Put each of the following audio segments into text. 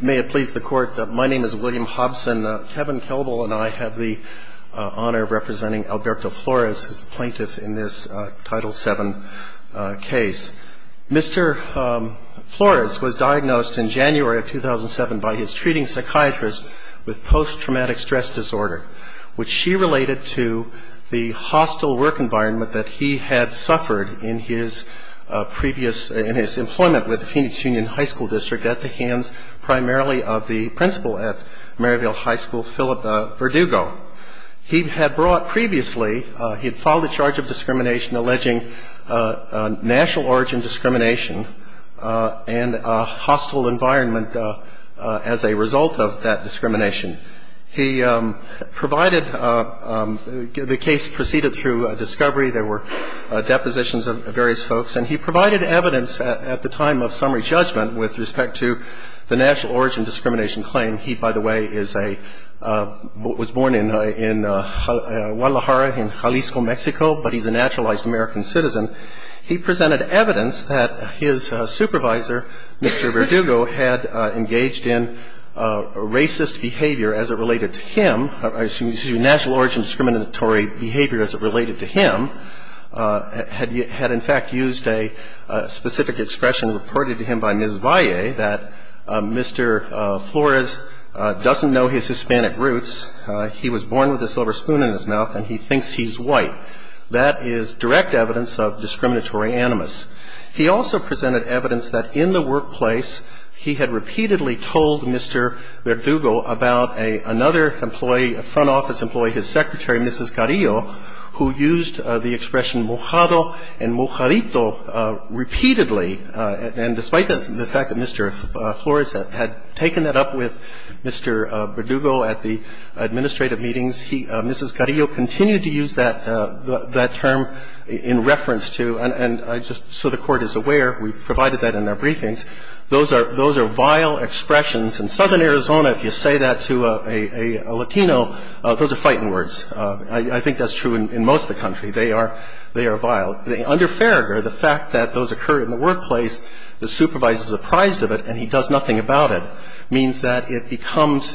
May it please the Court, my name is William Hobson. Kevin Kelbel and I have the honor of representing Alberto Flores, who is the plaintiff in this Title VII case. Mr. Flores was diagnosed in January of 2007 by his treating psychiatrist with post-traumatic stress disorder, which she related to the hostile work environment that he had suffered in his previous employment with the Phoenix Union High School District at the hands primarily of the principal at Maryville High School, Phillip Verdugo. He had brought previously, he had filed a charge of discrimination alleging national origin discrimination and a hostile environment as a result of that discrimination. He provided, the case proceeded through a discovery, there were depositions of various folks, and he provided evidence at the time of summary judgment with respect to the national origin discrimination claim. He, by the way, is a, was born in Guadalajara, in Jalisco, Mexico, but he's a naturalized American citizen. He presented evidence that his supervisor, Mr. Verdugo, had engaged in racist behavior as it related to him, national origin discriminatory behavior as it related to him, had in fact used a specific expression reported to him by Ms. Valle that Mr. Flores doesn't know his Hispanic roots, he was born with a silver spoon in his mouth, and he thinks he's white. That is direct evidence of discriminatory animus. He also presented evidence that in the workplace he had repeatedly told Mr. Verdugo about another employee of his, a front office employee, his secretary, Mrs. Carrillo, who used the expression mojado and mojadito repeatedly, and despite the fact that Mr. Flores had taken that up with Mr. Verdugo at the administrative meetings, he, Mrs. Carrillo, continued to use that term in reference to, and just so the Court is aware, we've provided that in our briefings. Those are vile expressions. In southern Arizona, if you say that to a Latino, those are fighting words. I think that's true in most of the country. They are vile. Under Farragher, the fact that those occur in the workplace, the supervisor is apprised of it and he does nothing about it means that it becomes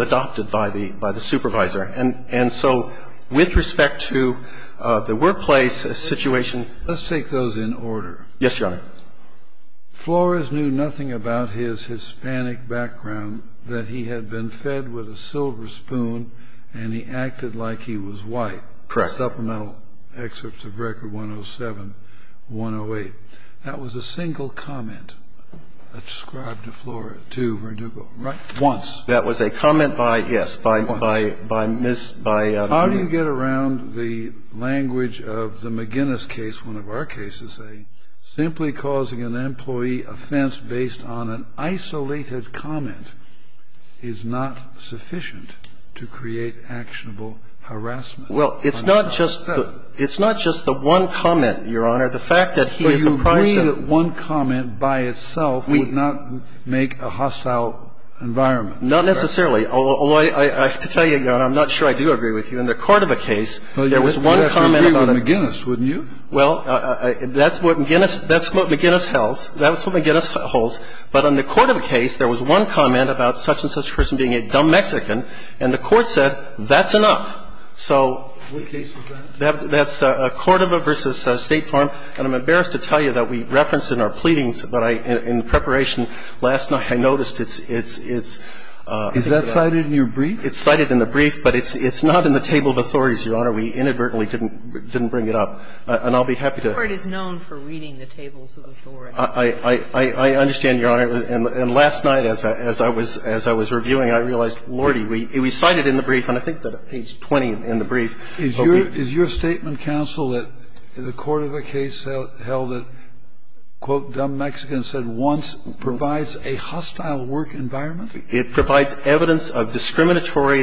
adopted by the supervisor. And so with respect to the workplace situation, let's take those in order. Yes, Your Honor. Flores knew nothing about his Hispanic background, that he had been fed with a silver spoon and he acted like he was white. Correct. Supplemental excerpts of Record 107, 108. That was a single comment described to Flores, to Verdugo, right? Once. That was a comment by, yes, by Ms. Byer. How do you get around the language of the McGinnis case, one of our cases, a simply causing an employee offense based on an isolated comment is not sufficient to create actionable harassment? Well, it's not just the one comment, Your Honor. The fact that he is apprised of the one comment by itself would not make a hostile environment. Not necessarily. I have to tell you, Your Honor, I'm not sure I do agree with you. In the Cordova case, there was one comment about it. Well, you would have to agree with McGinnis, wouldn't you? Well, that's what McGinnis held. That's what McGinnis holds. But on the Cordova case, there was one comment about such-and-such person being a dumb Mexican, and the Court said that's enough. So that's Cordova v. State Farm. And I'm embarrassed to tell you that we referenced in our pleadings, but I, in preparation last night, I noticed it's, it's, it's. Is that cited in your brief? It's cited in the brief, but it's not in the table of authorities, Your Honor. We inadvertently didn't bring it up. And I'll be happy to. The Court is known for reading the tables of authority. I, I, I understand, Your Honor. And last night as I, as I was, as I was reviewing, I realized, Lordy, we cited it in the brief, and I think it's at page 20 in the brief. Is your, is your statement, counsel, that the Cordova case held that, quote, dumb Mexicans said once provides a hostile work environment? It provides evidence of discriminatory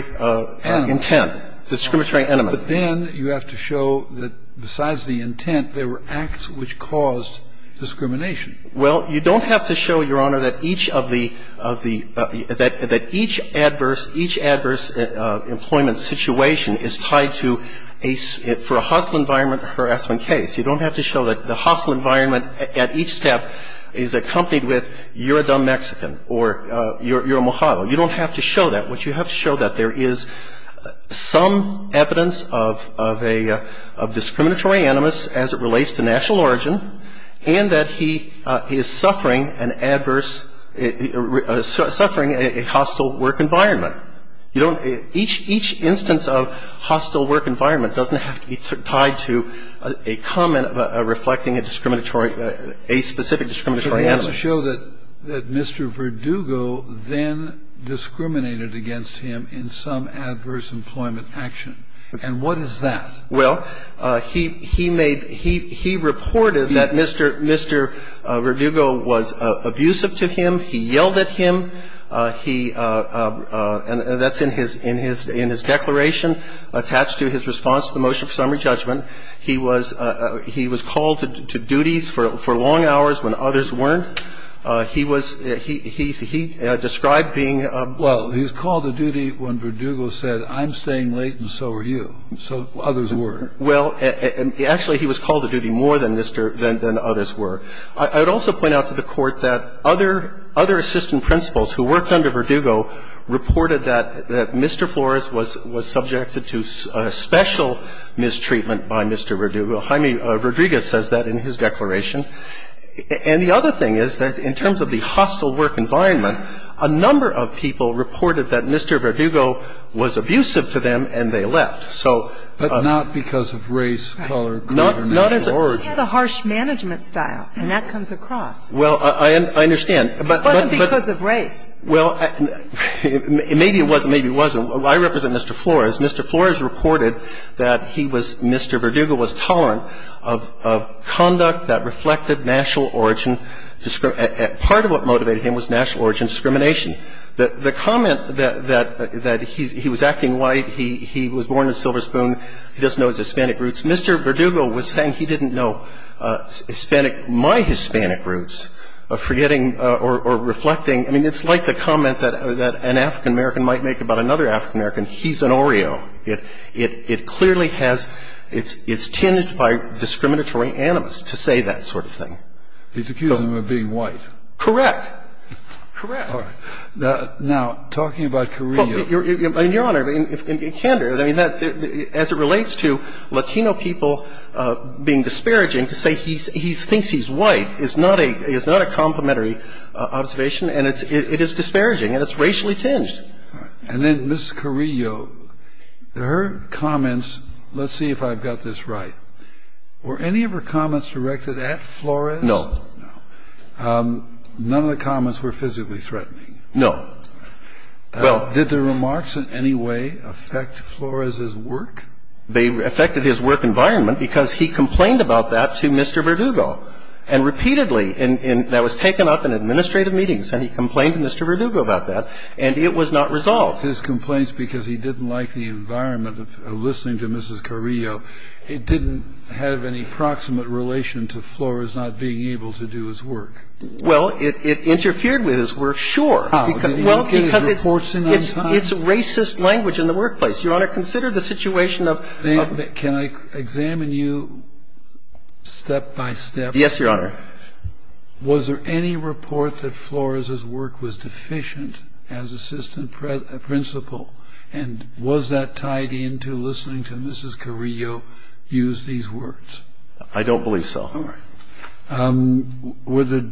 intent, discriminatory enemy. But then you have to show that besides the intent, there were acts which caused discrimination. Well, you don't have to show, Your Honor, that each of the, of the, that, that each adverse, each adverse employment situation is tied to a, for a hostile environment harassment case. You don't have to show that the hostile environment at each step is accompanied with you're a dumb Mexican or you're, you're a Mojave. You don't have to show that. What you have to show that there is some evidence of, of a, of discriminatory animus as it relates to national origin and that he is suffering an adverse, suffering a hostile work environment. You don't, each, each instance of hostile work environment doesn't have to be tied to a comment reflecting a discriminatory, a specific discriminatory animus. And you don't have to show that Mr. Verdugo then discriminated against him in some adverse employment action. And what is that? Well, he, he made, he, he reported that Mr., Mr. Verdugo was abusive to him. He yelled at him. He, and that's in his, in his, in his declaration attached to his response to the motion for summary judgment. He was, he was called to duties for, for long hours when others weren't. He was, he, he, he described being a. Well, he was called to duty when Verdugo said, I'm staying late and so are you. So others were. Well, actually he was called to duty more than Mr., than, than others were. I would also point out to the Court that other, other assistant principals who worked under Verdugo reported that, that Mr. Flores was, was subjected to a special mistreatment by Mr. Verdugo. Jaime Rodriguez says that in his declaration. And the other thing is that in terms of the hostile work environment, a number of people reported that Mr. Verdugo was abusive to them and they left. So. But not because of race, color, creed or national origin. He had a harsh management style, and that comes across. Well, I, I understand. But, but, but. It wasn't because of race. Well, maybe it was and maybe it wasn't. I represent Mr. Flores. Mr. Flores reported that he was, Mr. Verdugo was tolerant of, of conduct that reflected national origin, part of what motivated him was national origin discrimination. The, the comment that, that, that he, he was acting white, he, he was born in Silver Spoon, he doesn't know his Hispanic roots, Mr. Verdugo was saying he didn't know Hispanic, my Hispanic roots, forgetting or, or reflecting, I mean, it's like the comment that, that an African American might make about another African American. He's an Oreo. It, it, it clearly has, it's, it's tinged by discriminatory animus to say that sort of thing. He's accusing them of being white. Correct. Correct. All right. Now, talking about career. Your, Your Honor, in, in, in Canada, I mean, that, as it relates to Latino people being disparaging to say he's, he thinks he's white is not a, is not a complimentary observation, and it's, it, it is disparaging, and it's racially tinged. All right. And then Ms. Carrillo, her comments, let's see if I've got this right. Were any of her comments directed at Flores? No. No. None of the comments were physically threatening. No. Well. Did the remarks in any way affect Flores's work? They affected his work environment because he complained about that to Mr. Verdugo, and repeatedly in, in, that was taken up in administrative meetings, and he complained to Mr. Verdugo about that, and it was not resolved. His complaints because he didn't like the environment of listening to Mrs. Carrillo, it didn't have any proximate relation to Flores not being able to do his work. Well, it, it interfered with his work, sure. How? Well, because it's, it's, it's racist language in the workplace. Your Honor, consider the situation of, of. Can I examine you step by step? Yes, Your Honor. Was there any report that Flores's work was deficient as assistant principal, and was that tied into listening to Mrs. Carrillo use these words? I don't believe so. All right. Were the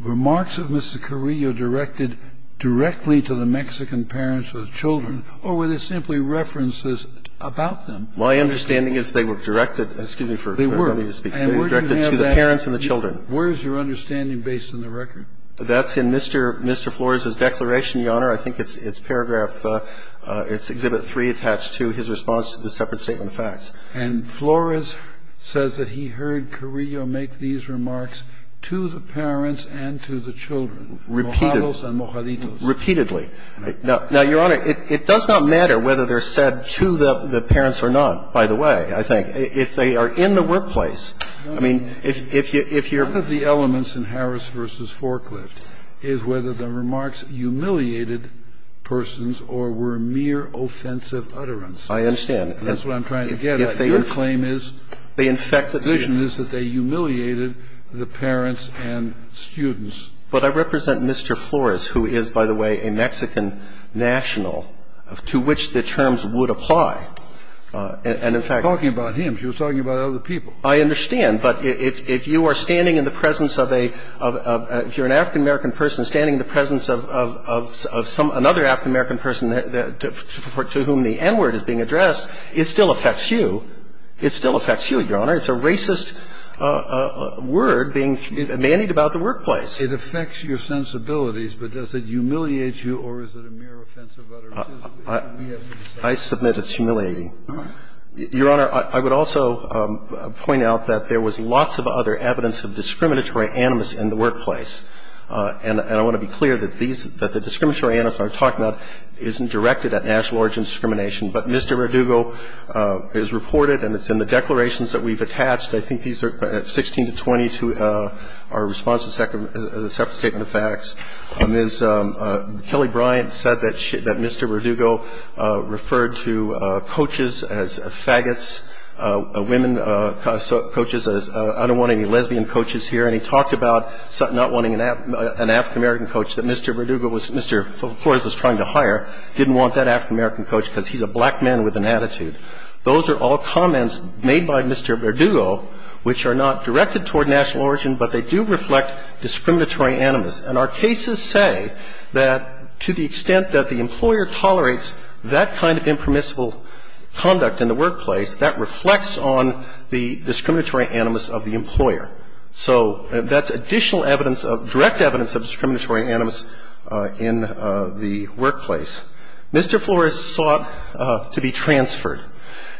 remarks of Mrs. Carrillo directed directly to the Mexican parents or the children, or were they simply references about them? My understanding is they were directed to the parents and the children. Where is your understanding based on the record? That's in Mr. Flores's declaration, Your Honor. I think it's, it's paragraph, it's Exhibit 3 attached to his response to the separate statement of facts. And Flores says that he heard Carrillo make these remarks to the parents and to the children, mojados and mojaditos. Repeatedly. Now, Your Honor, it, it does not matter whether they're said to the, the parents or not, by the way, I think. If they are in the workplace, I mean, if, if you're. One of the elements in Harris v. Forklift is whether the remarks humiliated persons or were mere offensive utterances. I understand. And that's what I'm trying to get at. Your claim is. The infected. The vision is that they humiliated the parents and students. But I represent Mr. Flores, who is, by the way, a Mexican national to which the terms would apply. And in fact. Talking about him. She was talking about other people. I understand. But if, if you are standing in the presence of a, of, of, if you're an African-American person standing in the presence of, of, of, of some, another African-American person to whom the N-word is being addressed, it still affects you. It still affects you, Your Honor. It's a racist word being manied about the workplace. It affects your sensibilities. But does it humiliate you or is it a mere offensive utterance? I submit it's humiliating. Your Honor, I would also point out that there was lots of other evidence of discriminatory animus in the workplace. And I want to be clear that these, that the discriminatory animus that I'm talking about isn't directed at national origin discrimination. But Mr. Radugo is reported and it's in the declarations that we've attached. I think these are 16 to 20 to our response to the second statement of facts. Ms. Kelly Bryant said that she, that Mr. Radugo referred to coaches as faggots, women coaches as I don't want any lesbian coaches here. And he talked about not wanting an African-American coach that Mr. Radugo was, Mr. Flores was trying to hire, didn't want that African-American coach because he's a black man with an attitude. Those are all comments made by Mr. Radugo which are not directed toward national origin, but they do reflect discriminatory animus. And our cases say that to the extent that the employer tolerates that kind of impermissible conduct in the workplace, that reflects on the discriminatory animus of the employer. So that's additional evidence of, direct evidence of discriminatory animus in the workplace. Mr. Flores sought to be transferred.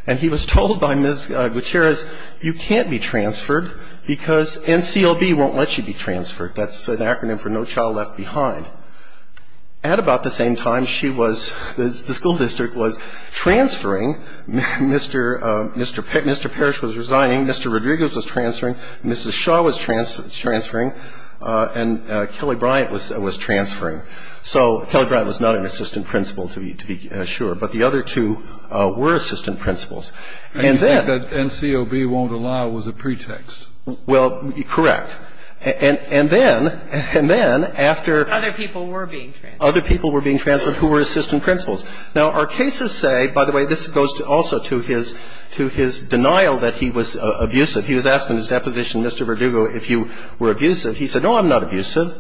And he was told by Ms. Gutierrez, you can't be transferred because NCLB won't let you be transferred. That's an acronym for No Child Left Behind. At about the same time, she was, the school district was transferring. Mr. Parrish was resigning. Mr. Radugo was transferring. Mrs. Shaw was transferring. And Kelly Bryant was transferring. So Kelly Bryant was not an assistant principal, to be sure. But the other two were assistant principals. And then the NCLB won't allow was a pretext. Well, correct. And then, and then after other people were being transferred who were assistant principals. Now, our cases say, by the way, this goes also to his denial that he was abusive. He was asked in his deposition, Mr. Radugo, if you were abusive. He said, no, I'm not abusive.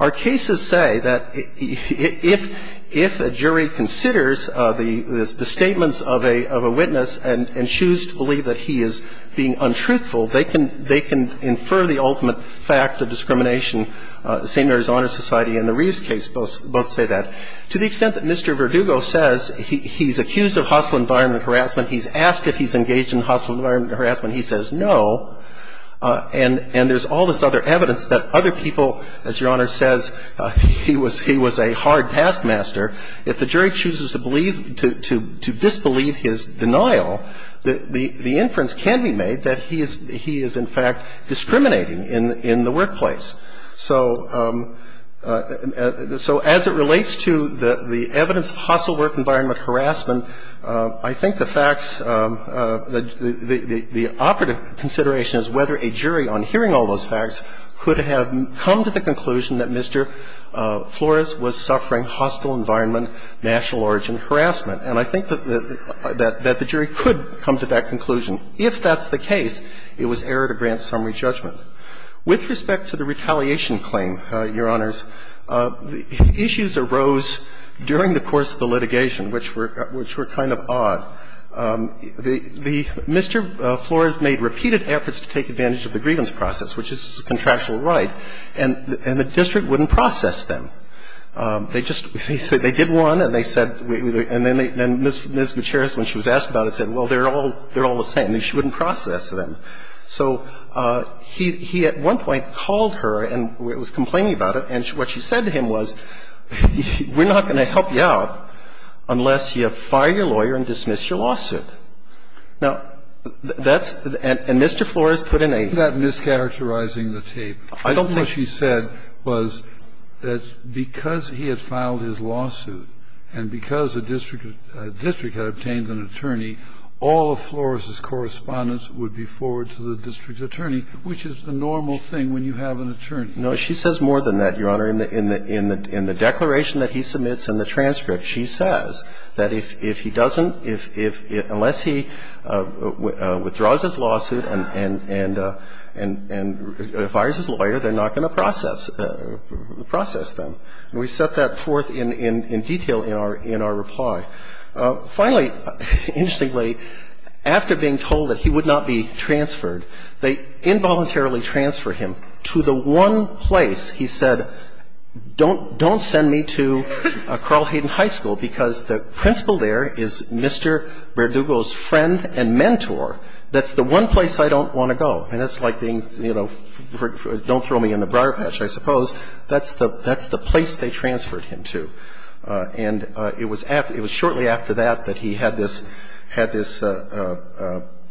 Our cases say that if a jury considers the statements of a witness and chooses to believe that he is being untruthful, they can infer the ultimate fact of discrimination, the St. Mary's Honor Society and the Reeves case both say that. To the extent that Mr. Radugo says he's accused of hostile environment harassment, he's asked if he's engaged in hostile environment harassment, he says no. And there's all this other evidence that other people, as Your Honor says, he was a hard taskmaster. If the jury chooses to believe, to disbelieve his denial, the inference can be made that he is in fact discriminating in the workplace. So as it relates to the evidence of hostile work environment harassment, I think the facts, the operative consideration is whether a jury on hearing all those facts could have come to the conclusion that Mr. Flores was suffering hostile environment national origin harassment. And I think that the jury could come to that conclusion. If that's the case, it was error to grant summary judgment. With respect to the retaliation claim, Your Honors, issues arose during the course of the litigation, which were kind of odd. Mr. Flores made repeated efforts to take advantage of the grievance process, which is a contractual right, and the district wouldn't process them. They just, they did one and they said, and then Ms. Gutierrez, when she was asked about it, said, well, they're all the same. She wouldn't process them. So he at one point called her and was complaining about it, and what she said to him was, we're not going to help you out unless you fire your lawyer and dismiss your lawsuit. Now, that's the end. And Mr. Flores put in a ---- That's not mischaracterizing the tape. I don't think ---- What she said was that because he had filed his lawsuit and because the district had obtained an attorney, all of Flores's correspondence would be forwarded to the district attorney, which is the normal thing when you have an attorney. Now, she says more than that, Your Honor. In the declaration that he submits and the transcript, she says that if he doesn't ---- unless he withdraws his lawsuit and fires his lawyer, they're not going to process them. And we set that forth in detail in our reply. Finally, interestingly, after being told that he would not be transferred, they involuntarily transferred him to the one place he said, don't send me to Carl Hayden High School because the principal there is Mr. Verdugo's friend and mentor. That's the one place I don't want to go. And that's like being, you know, don't throw me in the briar patch, I suppose. That's the place they transferred him to. And it was shortly after that that he had this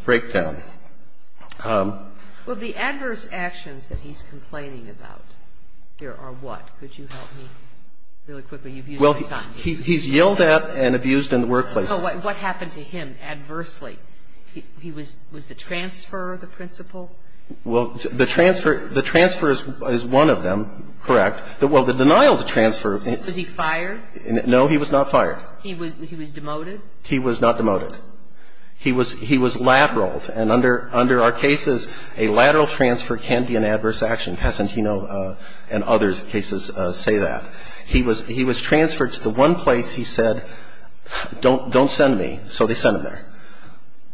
breakdown. Well, the adverse actions that he's complaining about here are what? Could you help me really quickly? You've used my time. He's yelled at and abused in the workplace. What happened to him adversely? Was the transfer the principal? Well, the transfer is one of them, correct. Well, the denial of the transfer. Was he fired? No, he was not fired. He was demoted? He was not demoted. He was lateraled. And under our cases, a lateral transfer can be an adverse action. Pesentino and others' cases say that. He was transferred to the one place he said, don't send me. So they sent him there.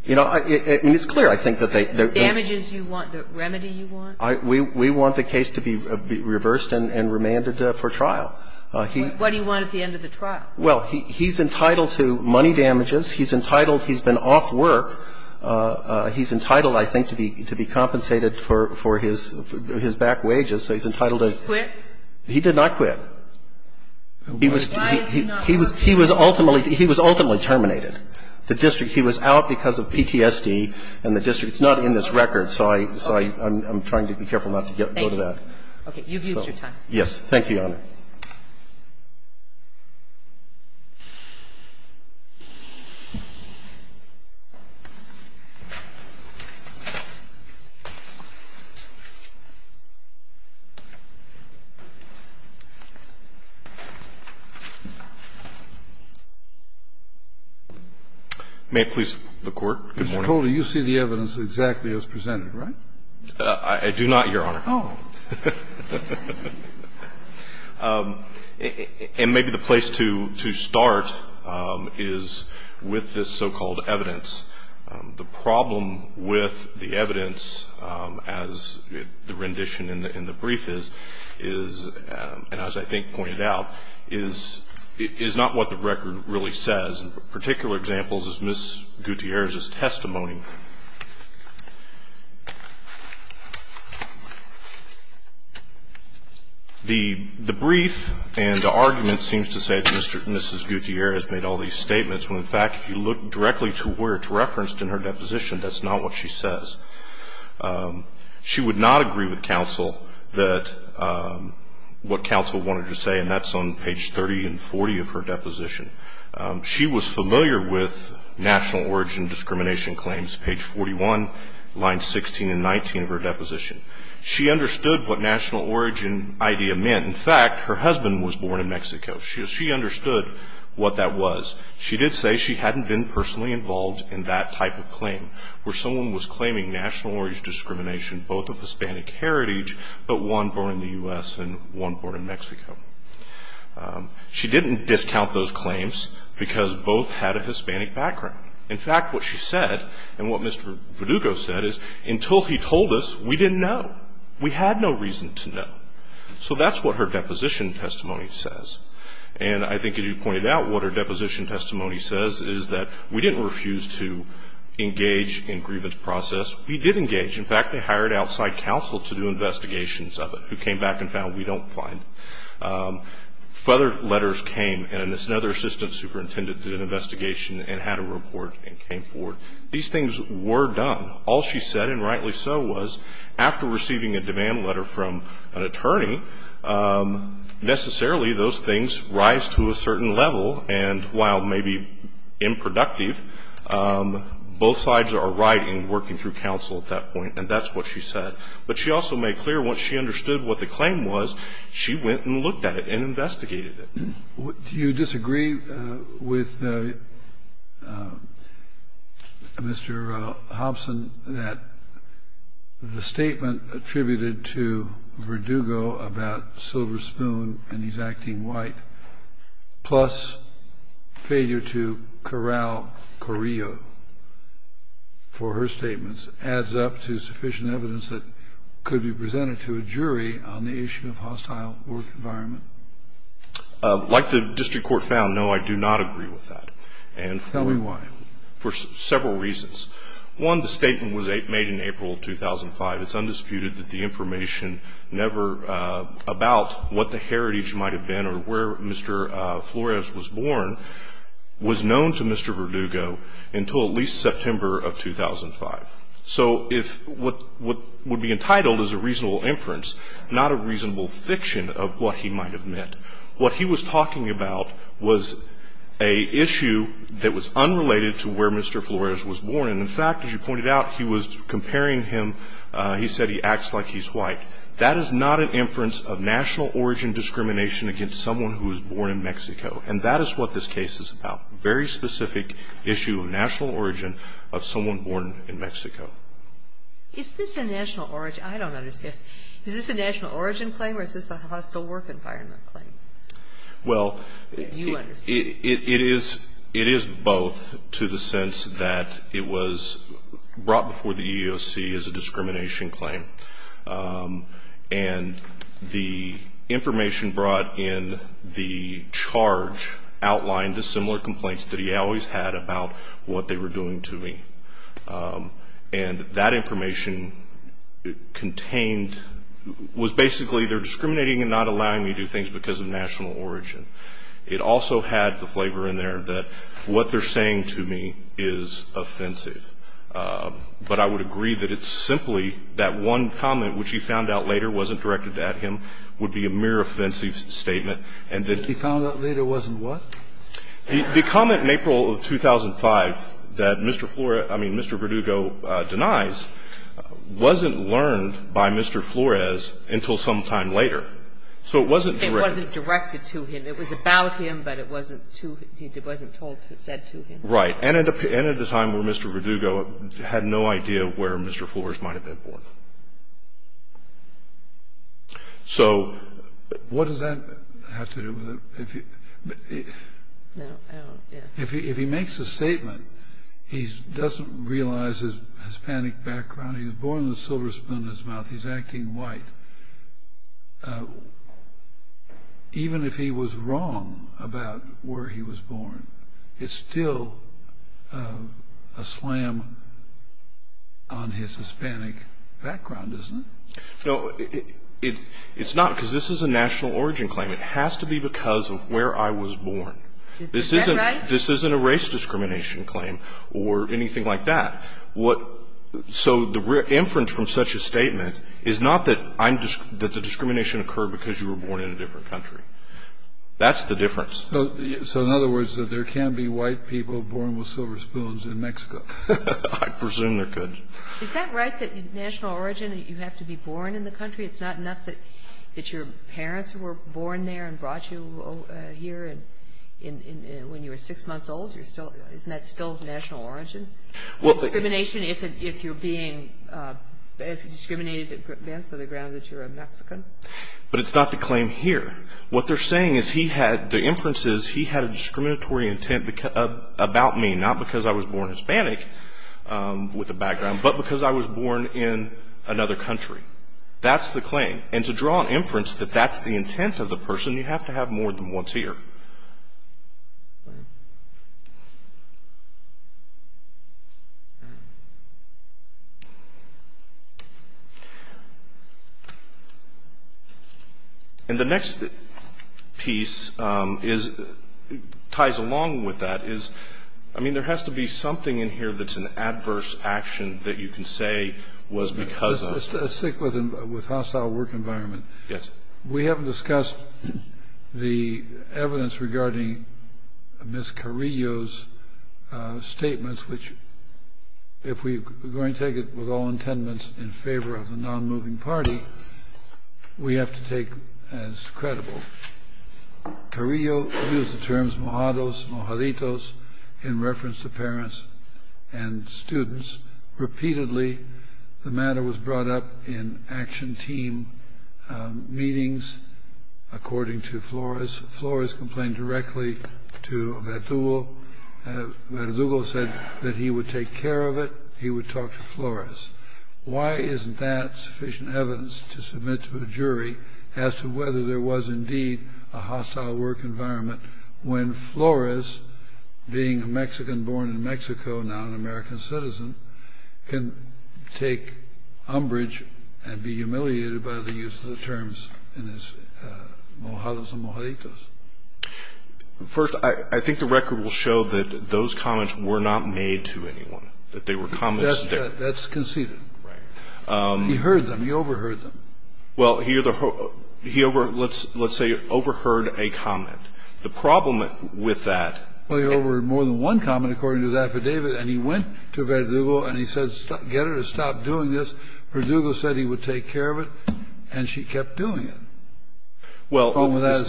You know, I mean, it's clear, I think, that they The damages you want, the remedy you want? We want the case to be reversed and remanded for trial. What do you want at the end of the trial? Well, he's entitled to money damages. He's entitled, he's been off work. He's entitled, I think, to be compensated for his back wages. So he's entitled to Quit? He did not quit. He was ultimately terminated. The district, he was out because of PTSD and the district. It's not in this record, so I'm trying to be careful not to go to that. Okay, you've used your time. Yes, thank you, Your Honor. May it please the Court. Good morning. Mr. Coley, you see the evidence exactly as presented, right? I do not, Your Honor. And maybe the place to start is with this so-called evidence. The problem with the evidence, as the rendition in the brief is, is, and as I think pointed out, is not what the record really says. In particular examples is Ms. Gutierrez's testimony. The brief and the argument seems to say that Mrs. Gutierrez made all these statements when, in fact, if you look directly to where it's referenced in her deposition, that's not what she says. She would not agree with counsel that what counsel wanted to say, and that's on page 30 and 40 of her deposition. She was familiar with national origin discrimination claims, page 41, lines 16 and 19 of her deposition. She understood what national origin idea meant. In fact, her husband was born in Mexico. She understood what that was. She did say she hadn't been personally involved in that type of claim, where someone was claiming national origin discrimination, both of Hispanic heritage, but one born in the U.S. and one born in Mexico. She didn't discount those claims because both had a Hispanic background. In fact, what she said, and what Mr. Verdugo said, is until he told us, we didn't know. We had no reason to know. So that's what her deposition testimony says. And I think as you pointed out, what her deposition testimony says is that we didn't refuse to engage in grievance process. We did engage. In fact, they hired outside counsel to do investigations of it, who came back and found we don't find. Further letters came, and another assistant superintendent did an investigation and had a report and came forward. These things were done. All she said, and rightly so, was after receiving a demand letter from an attorney, necessarily those things rise to a certain level, and while maybe improductive, both sides are right in working through counsel at that point. And that's what she said. But she also made clear once she understood what the claim was, she went and looked at it and investigated it. Do you disagree with Mr. Hobson that the statement attributed to Verdugo about Silver Spoon and he's acting white, plus failure to corral Correo for her statements adds up to sufficient evidence that could be presented to a jury on the issue of hostile work environment? Like the district court found, no, I do not agree with that. Tell me why. For several reasons. One, the statement was made in April of 2005. It's undisputed that the information never about what the heritage might have been or where Mr. Flores was born was known to Mr. Verdugo until at least September of 2005. So if what would be entitled as a reasonable inference, not a reasonable fiction of what he might have meant, what he was talking about was an issue that was unrelated to where Mr. Flores was born. And in fact, as you pointed out, he was comparing him, he said he acts like he's white. That is not an inference of national origin discrimination against someone who was born in Mexico. And that is what this case is about. Very specific issue of national origin of someone born in Mexico. Is this a national origin? I don't understand. Is this a national origin claim or is this a hostile work environment claim? Well, it is both to the sense that it was brought before the EEOC as a discrimination claim. And the information brought in the charge outlined the similar complaints that he always had about what they were doing to me. And that information contained was basically they're discriminating and not allowing me to do things because of national origin. It also had the flavor in there that what they're saying to me is offensive. But I would agree that it's simply that one comment, which he found out later wasn't directed at him, would be a mere offensive statement. And that he found out later wasn't what? The comment in April of 2005 that Mr. Flores, I mean, Mr. Verdugo denies wasn't learned by Mr. Flores until some time later. So it wasn't directed. It wasn't directed to him. It was about him, but it wasn't to him. It wasn't told to him, said to him. Right. And at a time when Mr. Verdugo had no idea where Mr. Flores might have been born. So what does that have to do with it? If he makes a statement, he doesn't realize his Hispanic background. He was born with a silver spoon in his mouth. He's acting white. Even if he was wrong about where he was born, it's still a slam on his Hispanic background, isn't it? No, it's not because this is a national origin claim. It has to be because of where I was born. Is that right? This isn't a race discrimination claim or anything like that. So the inference from such a statement is not that the discrimination occurred because you were born in a different country. That's the difference. So in other words, there can be white people born with silver spoons in Mexico. I presume there could. Is that right, that national origin, you have to be born in the country? It's not enough that your parents were born there and brought you here when you were 6 months old? Isn't that still national origin? Discrimination if you're being discriminated against on the grounds that you're a Mexican? But it's not the claim here. What they're saying is he had, the inference is he had a discriminatory intent about me, not because I was born Hispanic with a background, but because I was born in another country. That's the claim. And to draw an inference that that's the intent of the person, you have to have more than what's here. And the next piece ties along with that is, I mean, there has to be something in here that's an adverse action that you can say was because of. I'm sick with hostile work environment. Yes. We haven't discussed the evidence regarding Ms. Carrillo's statements, which if we're going to take it with all intendance in favor of the non-moving party, we have to take as credible. Carrillo used the terms mojados, mojaditos in reference to parents and students. Repeatedly, the matter was brought up in action team meetings, according to Flores. Flores complained directly to Verdugo. Verdugo said that he would take care of it. He would talk to Flores. Why isn't that sufficient evidence to submit to a jury as to whether there was indeed a hostile work environment when Flores, being a Mexican born in Mexico, now an American citizen, can take umbrage and be humiliated by the use of the terms in his mojados and mojaditos? First, I think the record will show that those comments were not made to anyone, that they were comments. That's conceded. Right. He heard them. He overheard them. Well, let's say he overheard a comment. The problem with that and he went to Verdugo and he said get her to stop doing this. Verdugo said he would take care of it, and she kept doing it. Well, the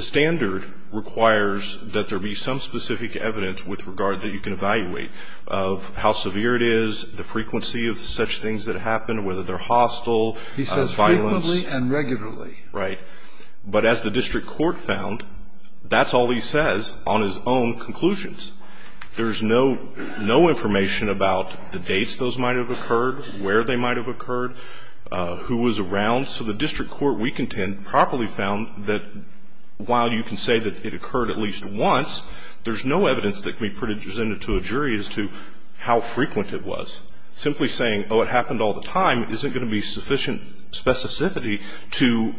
standard requires that there be some specific evidence with regard that you can evaluate of how severe it is, the frequency of such things that happen, whether they're hostile, violence. Frequently and regularly. Right. But as the district court found, that's all he says on his own conclusions. There's no information about the dates those might have occurred, where they might have occurred, who was around. So the district court, we contend, properly found that while you can say that it occurred at least once, there's no evidence that can be presented to a jury as to how frequent it was. Simply saying, oh, it happened all the time, isn't going to be sufficient specificity to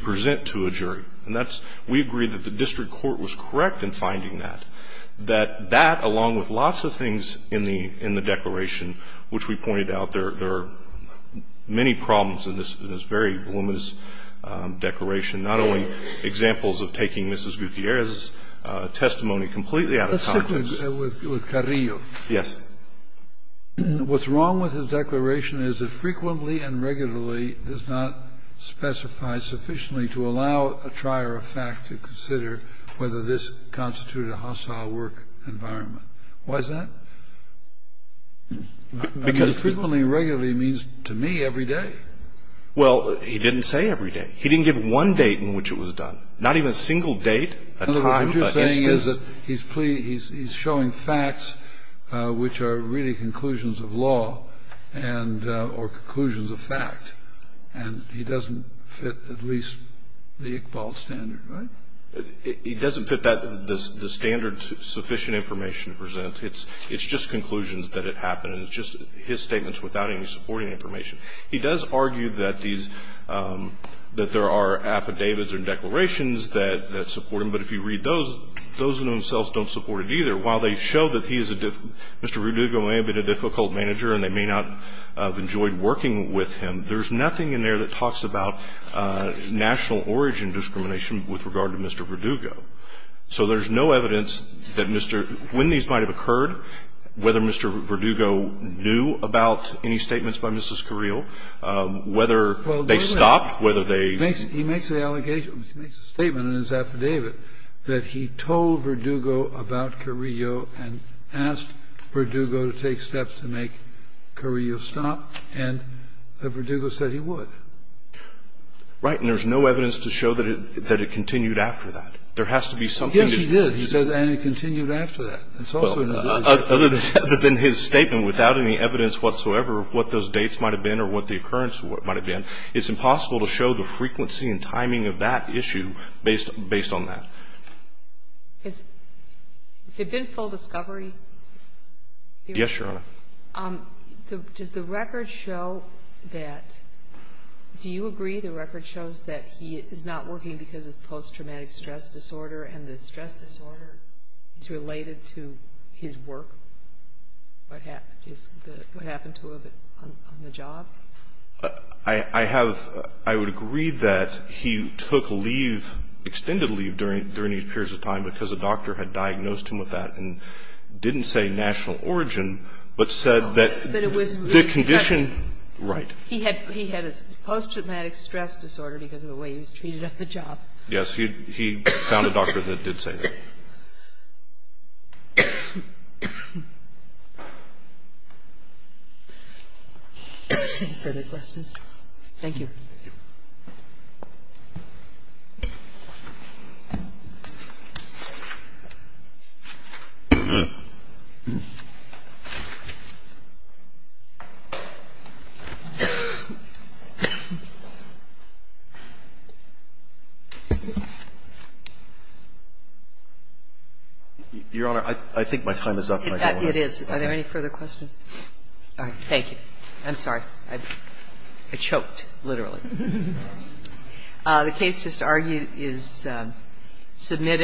present to a jury. And that's we agree that the district court was correct in finding that. That that, along with lots of things in the declaration, which we pointed out, there are many problems in this very voluminous declaration, not only examples of taking Mrs. Gutierrez's testimony completely out of context. Let's stick with Carrillo. Yes. What's wrong with his declaration is that frequently and regularly does not specify sufficiently to allow a trier of fact to consider whether this constituted a hostile work environment. Why is that? Because frequently and regularly means to me every day. Well, he didn't say every day. He didn't give one date in which it was done, not even a single date, a time, a instance. He says that he's showing facts which are really conclusions of law and or conclusions of fact. And he doesn't fit at least the Iqbal standard, right? He doesn't fit the standard sufficient information to present. It's just conclusions that it happened. And it's just his statements without any supporting information. He does argue that there are affidavits and declarations that support him. But if you read those, those in themselves don't support it either. While they show that he is a Mr. Verdugo may have been a difficult manager and they may not have enjoyed working with him, there's nothing in there that talks about national origin discrimination with regard to Mr. Verdugo. So there's no evidence that Mr. When these might have occurred, whether Mr. Verdugo knew about any statements by Mrs. Carrillo, whether they stopped, whether they He makes the allegation, he makes a statement in his affidavit that he told Verdugo about Carrillo and asked Verdugo to take steps to make Carrillo stop, and Verdugo said he would. Right. And there's no evidence to show that it continued after that. There has to be something to show that. Yes, he did. He says, and it continued after that. It's also in his affidavit. Other than his statement, without any evidence whatsoever of what those dates might timing of that issue based on that. Has there been full discovery? Yes, Your Honor. Does the record show that, do you agree the record shows that he is not working because of post-traumatic stress disorder and the stress disorder is related to his work? What happened to him on the job? I have, I would agree that he took leave, extended leave during these periods of time because a doctor had diagnosed him with that and didn't say national origin, but said that the condition. Right. He had a post-traumatic stress disorder because of the way he was treated on the job. He found a doctor that did say that. Any further questions? Thank you. Your Honor, I think my time is up. It is. Are there any further questions? Thank you. I'm sorry. I choked, literally. The case just argued is submitted.